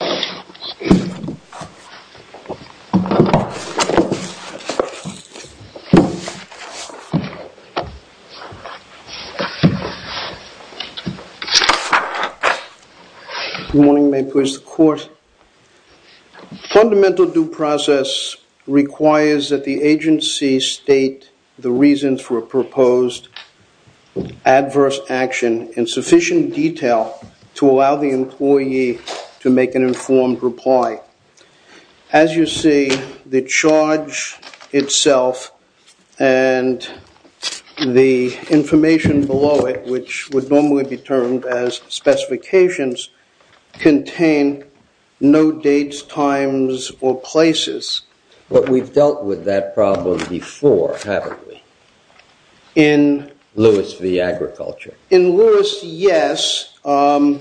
Good morning. May it please the court. Fundamental due process requires that the agency state the reasons for a proposed adverse action in sufficient detail to allow the employee to make an informed reply. As you see, the charge itself and the information below it, which would normally be termed as specifications, contain no dates, times, or places. But we've dealt with that problem before, haven't we? In Lewis v. Agriculture. In Lewis, yes. Although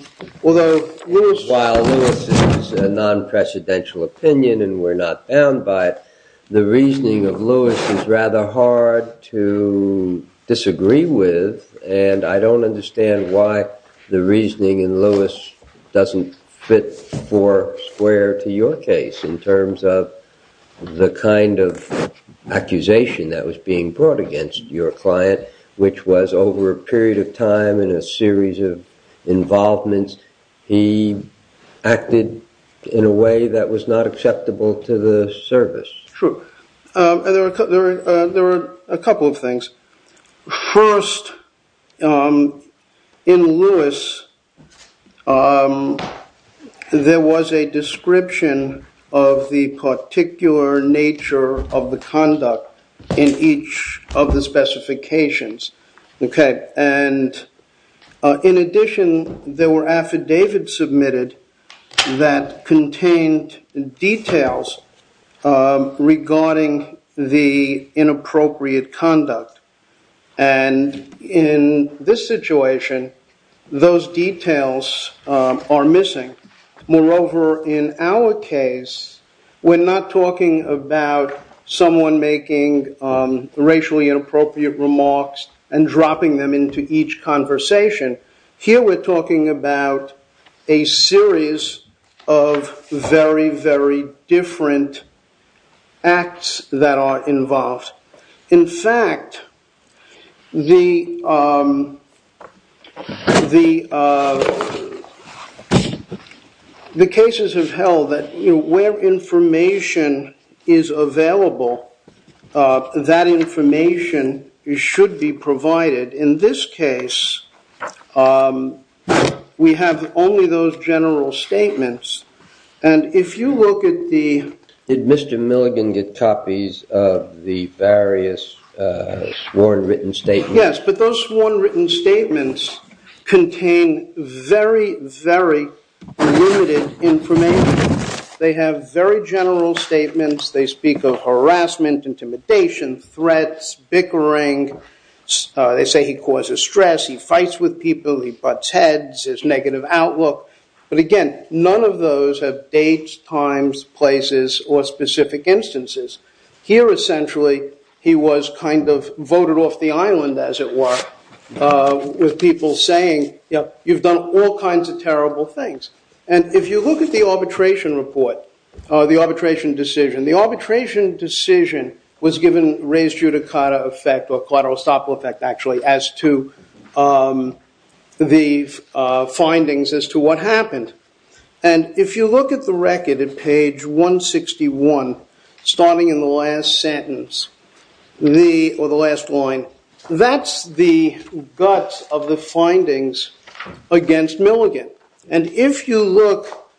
Lewis... While Lewis is a non-presidential opinion and we're not bound by it, the reasoning of Lewis is rather hard to disagree with, and I don't understand why the reasoning in Lewis doesn't fit square to your case in terms of the kind of accusation that was being brought against your client, which was over a period of time and a series of involvements, he acted in a way that was not acceptable to the service. True. There are a couple of things. First, in Lewis, there was a description of the particular nature of the conduct in each of the specifications. In addition, there were affidavits submitted that contained details regarding the inappropriate conduct. In this situation, those details are missing. Moreover, in our case, we're not talking about someone making racially inappropriate remarks and dropping them into each conversation. Here we're talking about a series of very, very different acts that are involved. In fact, the cases have held that where information is available, that information should be provided. In this case, we have only those general statements, and if you look at the... Yes, but those sworn written statements contain very, very limited information. They have very general statements. They speak of harassment, intimidation, threats, bickering. They say he causes stress, he fights with people, he butts heads, his negative outlook. But again, none of those have dates, times, places, or specific instances. Here, essentially, he was kind of voted off the island, as it were, with people saying, you've done all kinds of terrible things. And if you look at the arbitration report, the arbitration decision, the arbitration decision was given raised judicata effect, or collateral estoppel effect, actually, as to the findings as to what happened. And if you look at the record at page 161, starting in the last sentence, or the last line, that's the guts of the findings against Milligan. And if you look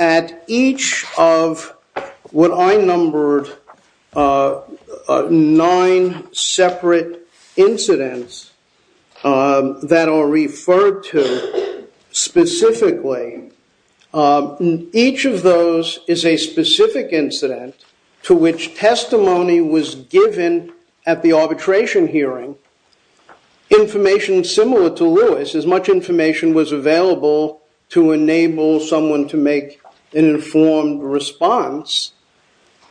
at each of what I numbered nine separate incidents that are referred to specifically, each of those is a specific incident to which testimony was given at the arbitration hearing. Information similar to Lewis, as much information was available to enable someone to make an informed response.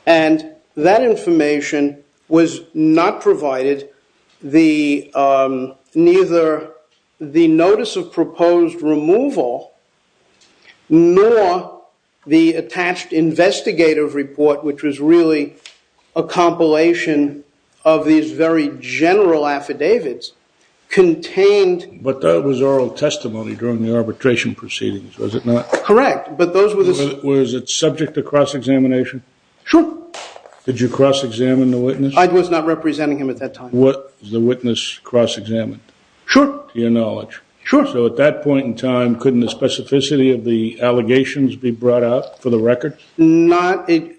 And that information was not provided, neither the notice of proposed removal, nor the attached investigative report, which was really a compilation of these very general affidavits, contained- But that was oral testimony during the arbitration proceedings, was it not? Correct. But those were the- Was it subject to cross-examination? Sure. Did you cross-examine the witness? I was not representing him at that time. Was the witness cross-examined? Sure. To your knowledge. Sure. So at that point in time, couldn't the specificity of the allegations be brought out for the record? Not in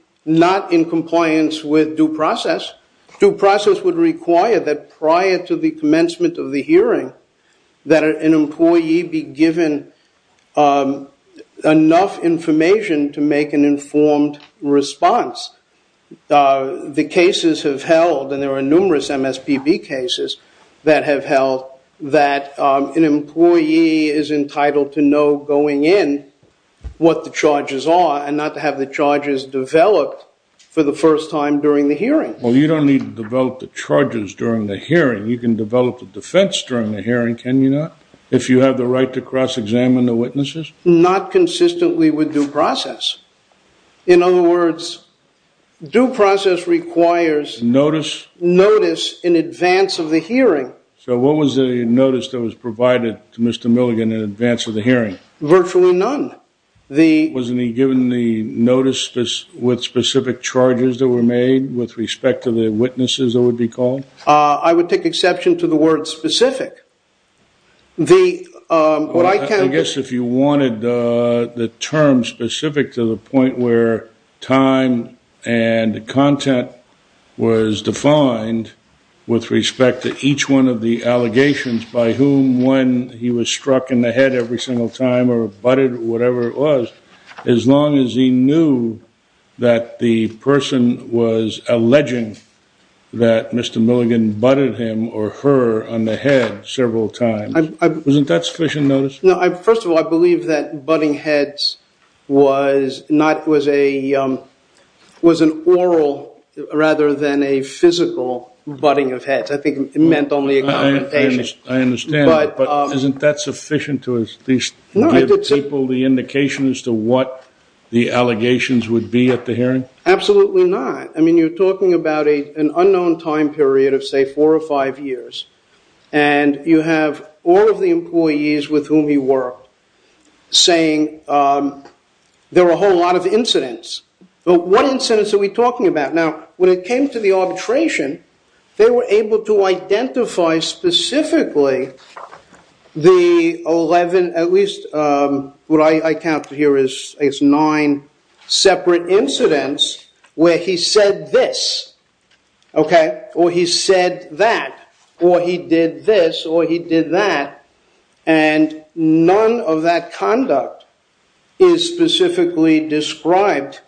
compliance with due process. Due process would require that prior to the commencement of the hearing, that an employee be given enough information to make an informed response. The cases have held, and there are numerous MSPB cases that have held, that an employee is entitled to know going in what the charges are, and not to have the charges developed for the first time during the hearing. Well, you don't need to develop the charges during the hearing. You can develop the defense during the hearing, can you not, if you have the right to cross-examine the witnesses? Not consistently with due process. In other words, due process requires notice in advance of the hearing. So what was the notice that was provided to Mr. Milligan in advance of the hearing? Virtually none. Wasn't he given the notice with specific charges that were made with respect to the witnesses, it would be called? I would take exception to the word specific. I guess if you wanted the term specific to the point where time and content was defined with respect to each one of the allegations, by whom, when, he was struck in the head every single time, or butted, or whatever it was, as long as he knew that the person was alleging that Mr. Milligan butted him or her on the head several times, wasn't that sufficient notice? First of all, I believe that butting heads was an oral rather than a physical butting of heads. I think it meant only a confrontation. But isn't that sufficient to at least give people the indication as to what the allegations would be at the hearing? Absolutely not. I mean, you're talking about an unknown time period of, say, four or five years, and you have all of the employees with whom he worked saying there were a whole lot of incidents. But what incidents are we talking about? Now, when it came to the arbitration, they were able to identify specifically the 11, at least what I counted here is nine separate incidents where he said this, or he said that, or he did this, or he did that. And none of that conduct is specifically described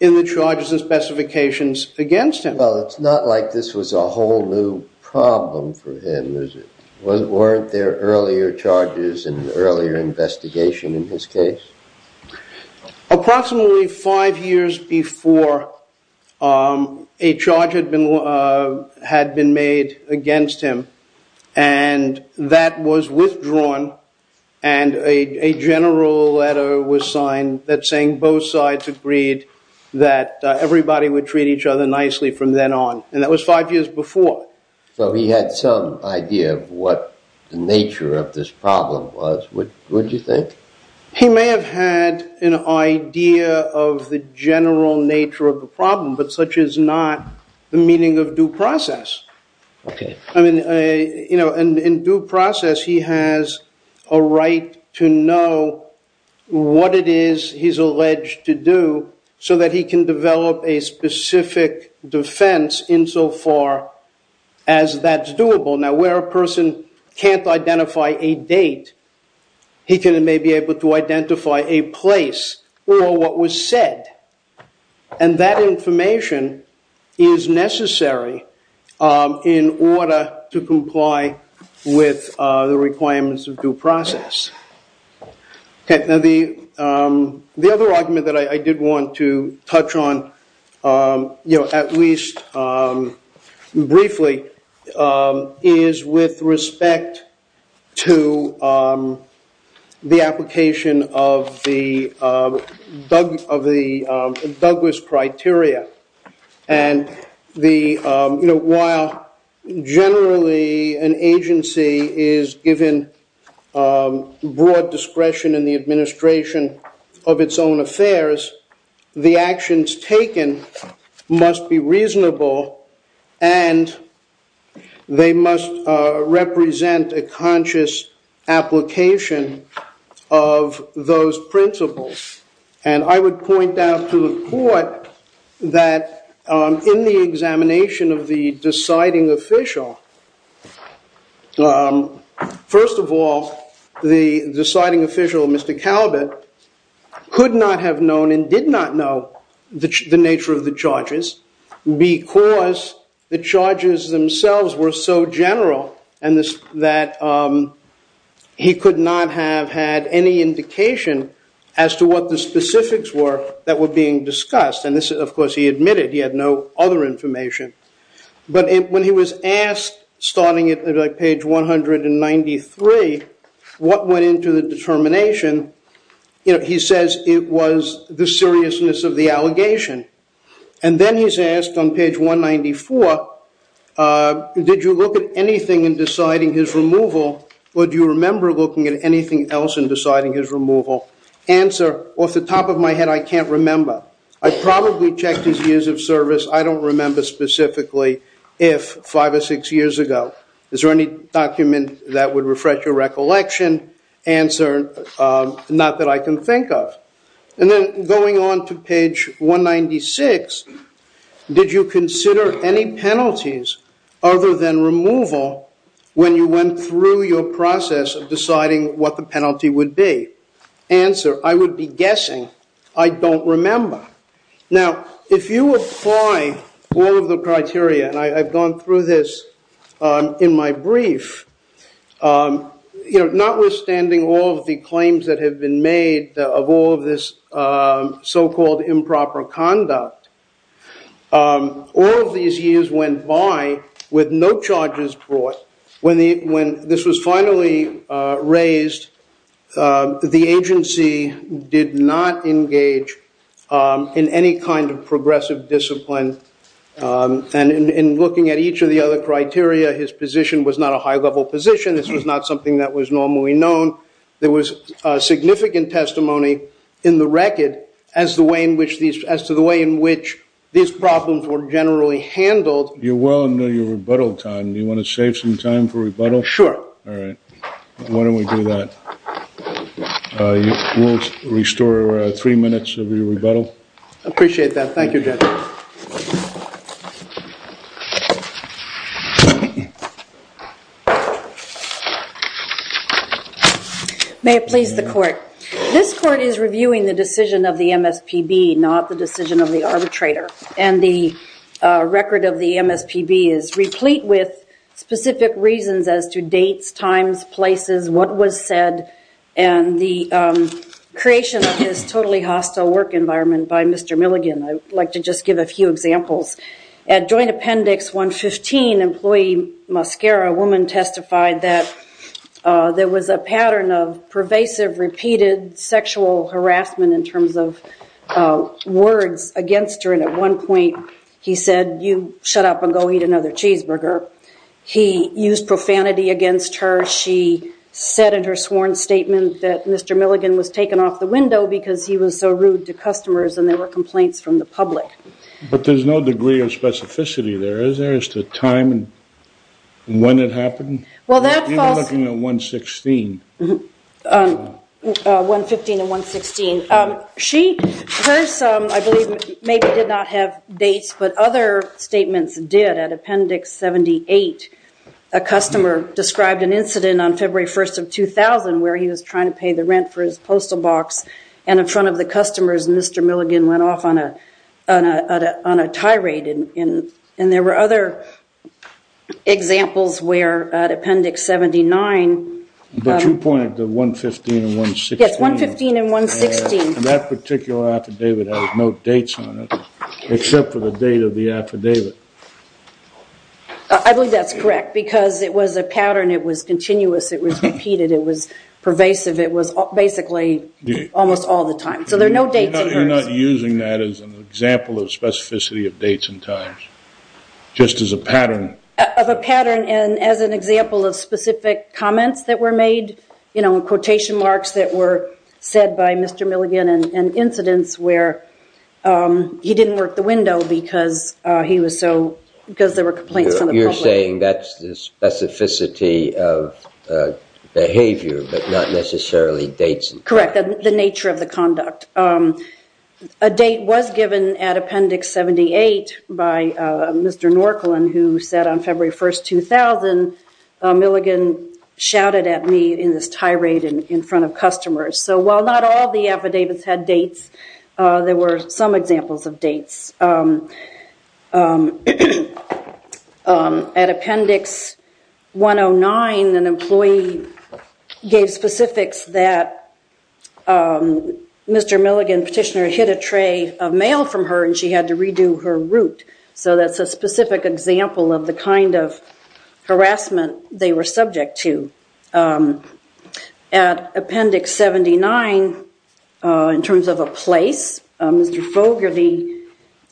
in the charges and specifications against him. Well, it's not like this was a whole new problem for him, is it? Weren't there earlier charges and earlier investigation in his case? Approximately five years before a charge had been made against him, and that was withdrawn and a general letter was signed that saying both sides agreed that everybody would treat each other nicely from then on. And that was five years before. So he had some idea of what the nature of this problem was, would you think? He may have had an idea of the general nature of the problem, but such is not the meaning of due process. I mean, in due process, he has a right to know what it is he's alleged to do so that he can develop a specific defense insofar as that's doable. Now, where a person can't identify a date, he may be able to identify a place or what was said. And that information is necessary in order to comply with the requirements of due process. Now, the other argument that I did want to touch on, at least briefly, is with respect to the application of the Douglas criteria. And while generally an agency is given broad discretion in the administration of its own affairs, the actions taken must be reasonable and they must represent a conscious application of those principles. And I would point out to the court that in the examination of the deciding official, first of all, the deciding official, Mr. Calvert, could not have known and did not know the nature of the charges because the charges themselves were so general and that he could not have had any indication as to what the specifics were that were being discussed. And this, of course, he admitted he had no other information. But when he was asked, starting at page 193, what went into the determination, he says it was the seriousness of the allegation. And then he's asked on page 194, did you look at anything in deciding his removal or do you remember looking at anything else in deciding his removal? Answer, off the top of my head, I can't remember. I probably checked his years of service. I don't remember specifically if five or six years ago. Is there any document that would refresh your recollection? Answer, not that I can think of. And then going on to page 196, did you consider any penalties other than removal when you went through your process of deciding what the penalty would be? Answer, I would be guessing. I don't remember. Now, if you apply all of the criteria, and I've gone through this in my brief, notwithstanding all of the claims that have been made of all of this so-called improper conduct, all of these years went by with no charges brought. When this was finally raised, the agency did not engage in any kind of progressive discipline. And in looking at each of the other criteria, his position was not a high-level position. This was not something that was normally known. There was significant testimony in the record as to the way in which these problems were generally handled. You're well into your rebuttal time. Do you want to save some time for rebuttal? Sure. All right. Why don't we do that? We'll restore three minutes of your rebuttal. Appreciate that. Thank you, Judge. May it please the Court. This Court is reviewing the decision of the MSPB, not the decision of the arbitrator. And the record of the MSPB is replete with specific reasons as to dates, times, places, what was said, and the creation of this totally hostile work environment by Mr. Milligan. I'd like to just give a few examples. At Joint Appendix 115, employee Mascara, a woman, testified that there was a pattern of pervasive, repeated sexual harassment in terms of words against her. And at one point, he said, you shut up and go eat another cheeseburger. He used profanity against her. She said in her sworn statement that Mr. Milligan was taken off the window because he was so rude to customers and there were complaints from the public. But there's no degree of specificity there, is there, as to the time and when it happened? Well, that falls. You're looking at 116. 115 and 116. She, hers, I believe, maybe did not have dates, but other statements did. At Appendix 78, a customer described an incident on February 1st of 2000 where he was trying to pay the rent for his postal box, and in front of the customers, Mr. Milligan went off on a tirade. And there were other examples where, at Appendix 79, But you pointed to 115 and 116. Yes, 115 and 116. And that particular affidavit has no dates on it, except for the date of the affidavit. I believe that's correct, because it was a pattern. It was continuous. It was repeated. It was pervasive. It was basically almost all the time. So there are no dates. You're not using that as an example of specificity of dates and times, just as a pattern? Of a pattern and as an example of specific comments that were made, quotation marks that were said by Mr. Milligan, and incidents where he didn't work the window because there were complaints from the public. You're saying that's the specificity of behavior, but not necessarily dates. Correct, the nature of the conduct. A date was given at Appendix 78 by Mr. Norcolan, who said on February 1st, 2000, Milligan shouted at me in this tirade in front of customers. So while not all the affidavits had dates, there were some examples of dates. At Appendix 109, an employee gave specifics that Mr. Milligan, petitioner, hid a tray of mail from her and she had to redo her route. So that's a specific example of the kind of harassment they were subject to. At Appendix 79, in terms of a place, Mr. Fogarty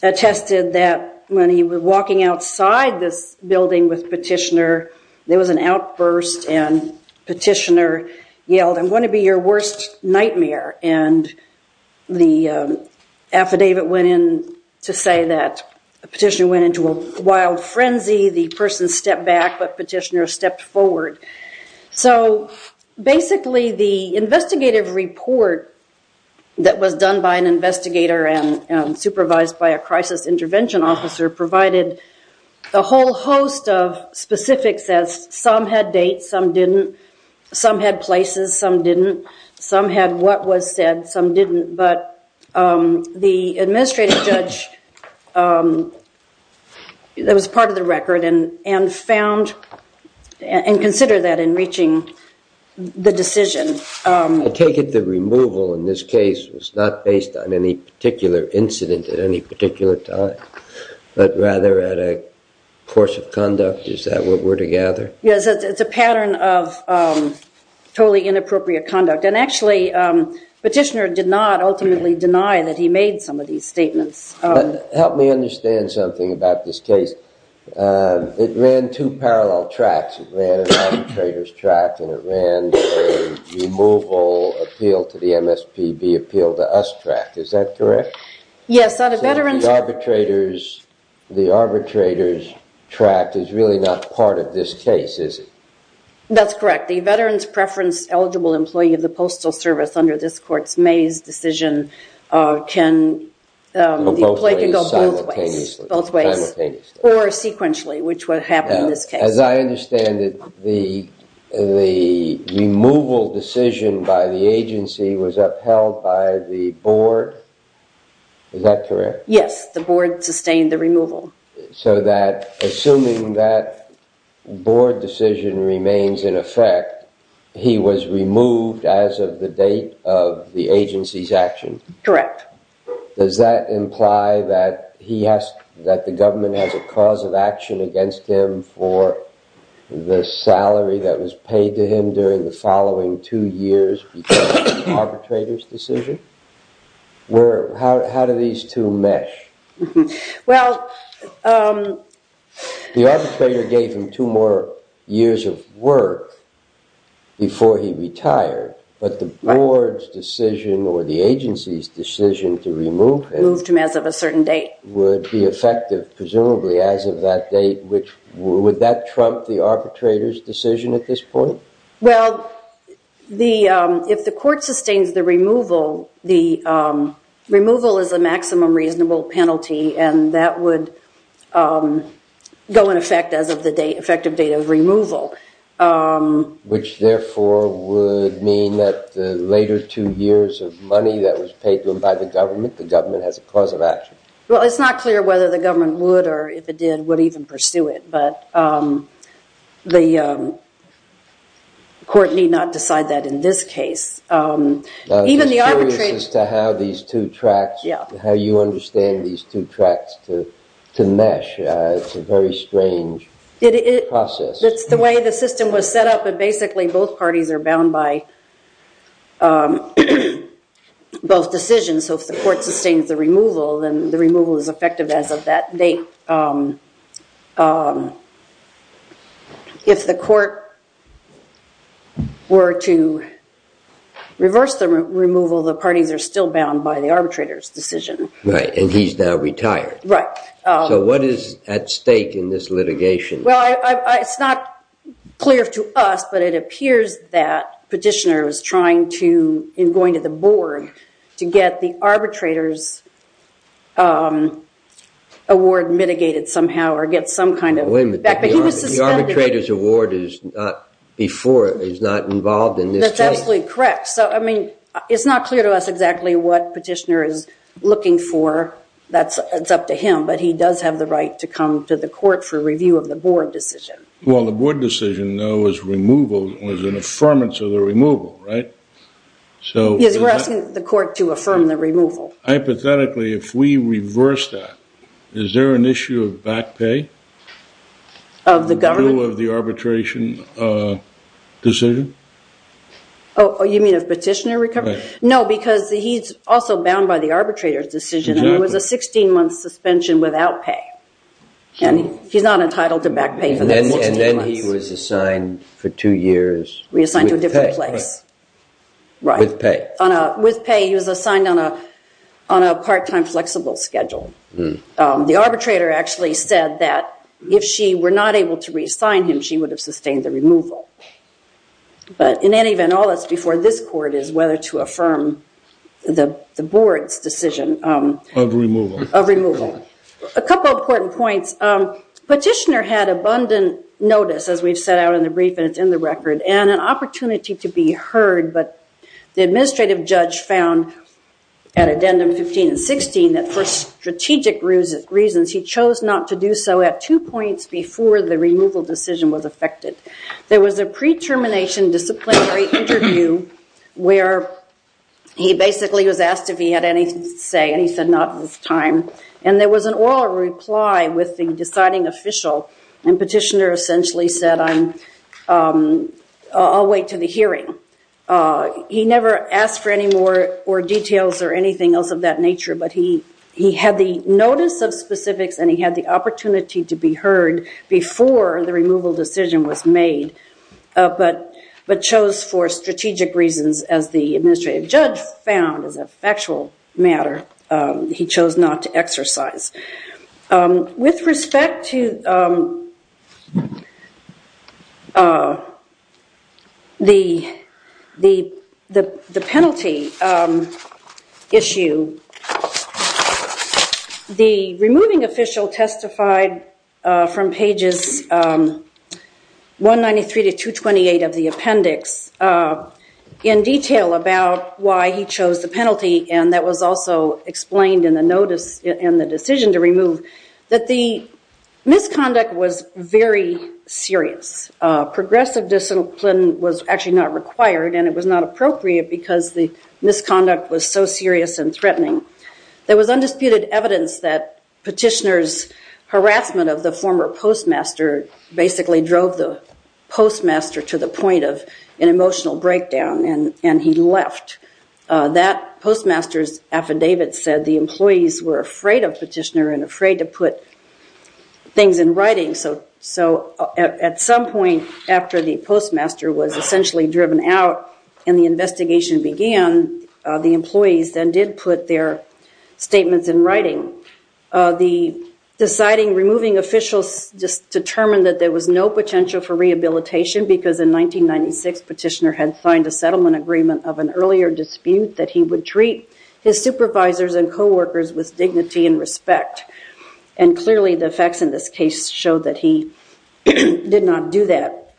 attested that when he was walking outside this building with petitioner, there was an outburst and petitioner yelled, I'm going to be your worst nightmare. The affidavit went in to say that petitioner went into a wild frenzy, the person stepped back, but petitioner stepped forward. So basically the investigative report that was done by an investigator and supervised by a crisis intervention officer provided a whole host of specifics as some had dates, some didn't, some had places, some didn't, some had what was said, some didn't. But the administrative judge, that was part of the record, and found and considered that in reaching the decision. I take it the removal in this case was not based on any particular incident at any particular time, but rather at a course of conduct, is that what we're to gather? Yes, it's a pattern of totally inappropriate conduct, and actually petitioner did not ultimately deny that he made some of these statements. Help me understand something about this case. It ran two parallel tracks, it ran an arbitrator's track and it ran a removal appeal to the MSPB appeal to us track, is that correct? So the arbitrator's track is really not part of this case, is it? That's correct. The veterans preference eligible employee of the postal service under this court's Mays decision can go both ways, or sequentially, which would happen in this case. As I understand it, the removal decision by the agency was upheld by the board, is that correct? Yes, the board sustained the removal. So that, assuming that board decision remains in effect, he was removed as of the date of the agency's action? Correct. Does that imply that the government has a cause of action against him for the salary that was paid to him during the following two years because of the arbitrator's decision? How do these two mesh? Well... The arbitrator gave him two more years of work before he retired, but the board's decision or the agency's decision to remove him... Moved him as of a certain date. ...would be effective presumably as of that date. Would that trump the arbitrator's decision at this point? Well, if the court sustains the removal, the removal is a maximum reasonable penalty and that would go in effect as of the effective date of removal. Which therefore would mean that the later two years of money that was paid to him by the government, the government has a cause of action. Well, it's not clear whether the government would or if it did would even pursue it, but the court need not decide that in this case. I'm just curious as to how these two tracks, how you understand these two tracks to mesh. It's a very strange process. It's the way the system was set up and basically both parties are bound by both decisions. So if the court sustains the removal, then the removal is effective as of that date. If the court were to reverse the removal, the parties are still bound by the arbitrator's decision. Right, and he's now retired. Right. So what is at stake in this litigation? Well, it's not clear to us, but it appears that Petitioner is trying to, in going to the board, to get the arbitrator's award mitigated somehow or get some kind of effect. But he was suspended. The arbitrator's award is not before, is not involved in this case. That's absolutely correct. So, I mean, it's not clear to us exactly what Petitioner is looking for. It's up to him, but he does have the right to come to the court for review of the board decision. Well, the board decision, though, was an affirmance of the removal, right? Yes, we're asking the court to affirm the removal. Hypothetically, if we reverse that, is there an issue of back pay? Of the government? Of the arbitration decision? Oh, you mean of Petitioner recovery? No, because he's also bound by the arbitrator's decision. He was a 16-month suspension without pay, and he's not entitled to back pay for that 16 months. And then he was assigned for two years with pay. Reassigned to a different place. Right. With pay. With pay, he was assigned on a part-time flexible schedule. The arbitrator actually said that if she were not able to reassign him, she would have sustained the removal. But in any event, all that's before this court is whether to affirm the board's decision. Of removal. Of removal. A couple important points. Petitioner had abundant notice, as we've set out in the brief, and it's in the record, and an opportunity to be heard. But the administrative judge found, at addendum 15 and 16, that for strategic reasons, he chose not to do so at two points before the removal decision was effected. There was a pre-termination disciplinary interview where he basically was asked if he had anything to say, and he said not at this time. And there was an oral reply with the deciding official, and petitioner essentially said, I'll wait to the hearing. He never asked for any more details or anything else of that nature, but he had the notice of specifics and he had the opportunity to be heard before the removal decision was made, but chose for strategic reasons, as the administrative judge found as a factual matter, he chose not to exercise. With respect to the penalty issue, the removing official testified from pages 193 to 228 of the appendix, in detail about why he chose the penalty, and that was also explained in the notice and the decision to remove, that the misconduct was very serious. Progressive discipline was actually not required, and it was not appropriate because the misconduct was so serious and threatening. There was undisputed evidence that petitioner's harassment of the former postmaster basically drove the postmaster to the point of an emotional breakdown, and he left. That postmaster's affidavit said the employees were afraid of petitioner and afraid to put things in writing, so at some point after the postmaster was essentially driven out and the investigation began, the employees then did put their statements in writing. The deciding removing officials determined that there was no potential for rehabilitation because in 1996 petitioner had signed a settlement agreement of an earlier dispute that he would treat his supervisors and co-workers with dignity and respect, and clearly the facts in this case show that he did not do that.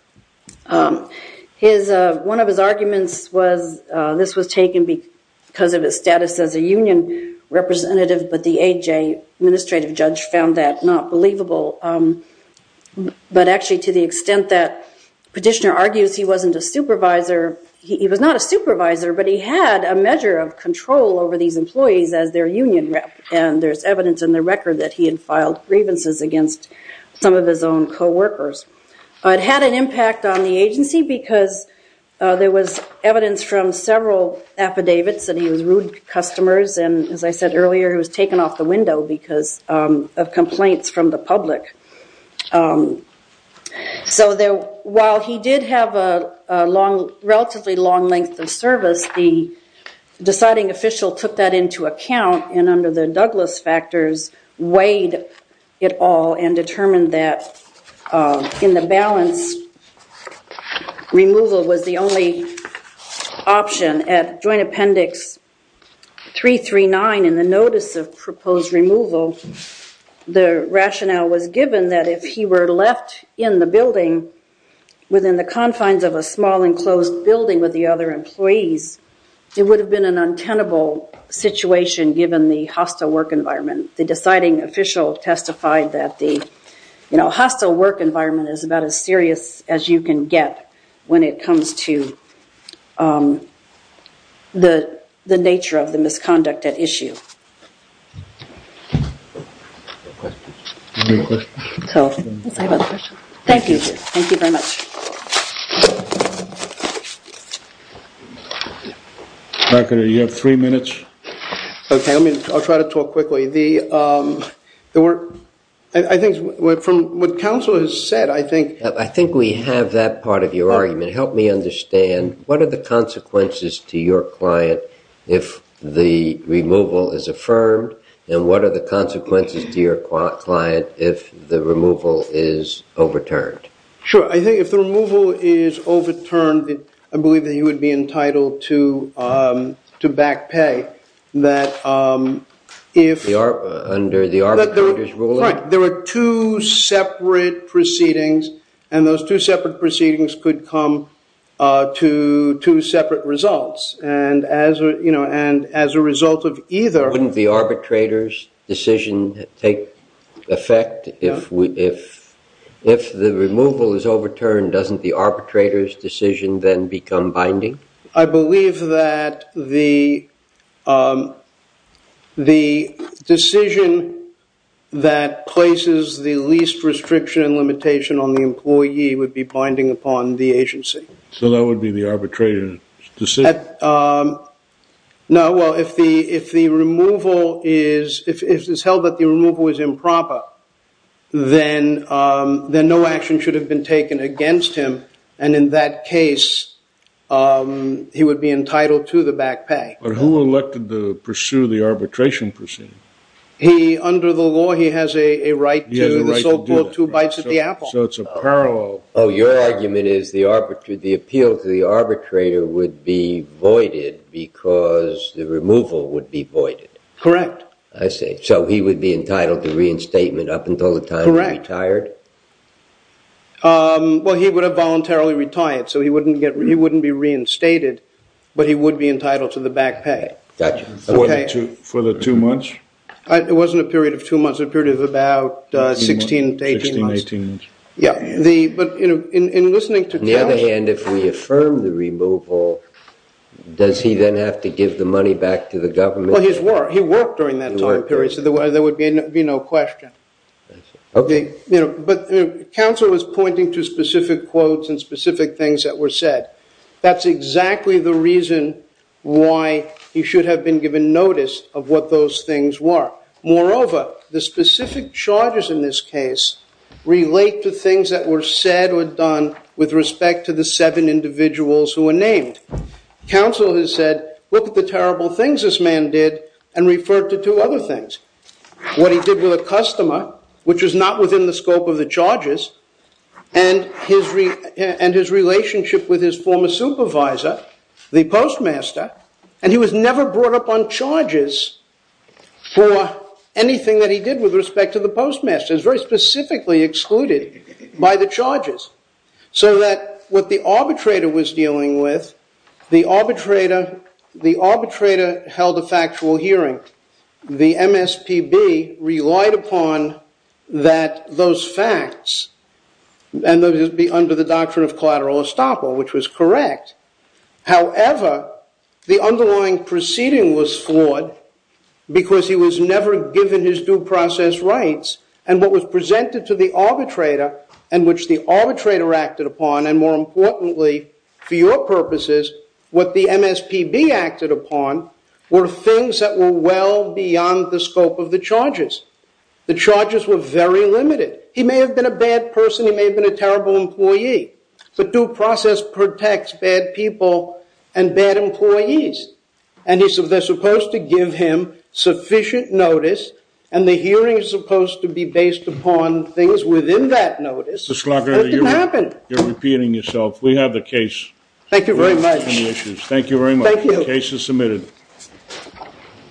One of his arguments was this was taken because of his status as a union representative, but the AJ, administrative judge, found that not believable. But actually to the extent that petitioner argues he wasn't a supervisor, he was not a supervisor, but he had a measure of control over these employees as their union rep, and there's evidence in the record that he had filed grievances against some of his own co-workers. It had an impact on the agency because there was evidence from several affidavits that he was rude to customers, and as I said earlier, he was taken off the window because of complaints from the public. So while he did have a relatively long length of service, the deciding official took that into account and under the Douglas factors weighed it all and determined that in the balance, removal was the only option. At joint appendix 339 in the notice of proposed removal, the rationale was given that if he were left in the building within the confines of a small enclosed building with the other employees, it would have been an untenable situation given the hostile work environment. The deciding official testified that the hostile work environment is about as serious as you can get when it comes to the nature of the misconduct at issue. Thank you. Thank you very much. Mark, you have three minutes. Okay, I'll try to talk quickly. I think from what counsel has said, I think... I think we have that part of your argument. Help me understand what are the consequences to your client if the removal is affirmed and what are the consequences to your client if the removal is overturned? Sure. I think if the removal is overturned, I believe that he would be entitled to back pay that if... Under the arbitrator's ruling? Right. There were two separate proceedings and those two separate proceedings could come to two separate results. And as a result of either... If the removal is overturned, doesn't the arbitrator's decision then become binding? I believe that the decision that places the least restriction and limitation on the employee would be binding upon the agency. No, well, if the removal is... If it's held that the removal is improper, then no action should have been taken against him. And in that case, he would be entitled to the back pay. But who elected to pursue the arbitration proceeding? Under the law, he has a right to... He has a right to do it. ...assault court two bites at the apple. So it's a parallel... Oh, your argument is the appeal to the arbitrator would be voided because the removal would be voided. Correct. I see. So he would be entitled to reinstatement up until the time he retired? Correct. Well, he would have voluntarily retired, so he wouldn't be reinstated, but he would be entitled to the back pay. Gotcha. For the two months? It wasn't a period of two months, it was a period of about 16 to 18 months. 16, 18 months. Yeah. But in listening to... On the other hand, if we affirm the removal, does he then have to give the money back to the government? Well, he worked during that time period, so there would be no question. I see. Okay. But counsel was pointing to specific quotes and specific things that were said. That's exactly the reason why he should have been given notice of what those things were. Moreover, the specific charges in this case relate to things that were said or done with respect to the seven individuals who were named. Counsel has said, look at the terrible things this man did, and referred to two other things. What he did with a customer, which was not within the scope of the charges, and his relationship with his former supervisor, the postmaster. And he was never brought up on charges for anything that he did with respect to the postmaster. He was very specifically excluded by the charges. So that what the arbitrator was dealing with, the arbitrator held a factual hearing. The MSPB relied upon those facts, and those would be under the doctrine of collateral estoppel, which was correct. However, the underlying proceeding was flawed, because he was never given his due process rights. And what was presented to the arbitrator, and which the arbitrator acted upon, and more importantly, for your purposes, what the MSPB acted upon, were things that were well beyond the scope of the charges. The charges were very limited. He may have been a bad person. He may have been a terrible employee. But due process protects bad people and bad employees. And they're supposed to give him sufficient notice, and the hearing is supposed to be based upon things within that notice. Mr. Schlager, you're repeating yourself. We have the case. Thank you very much. Thank you very much. Thank you. The case is submitted.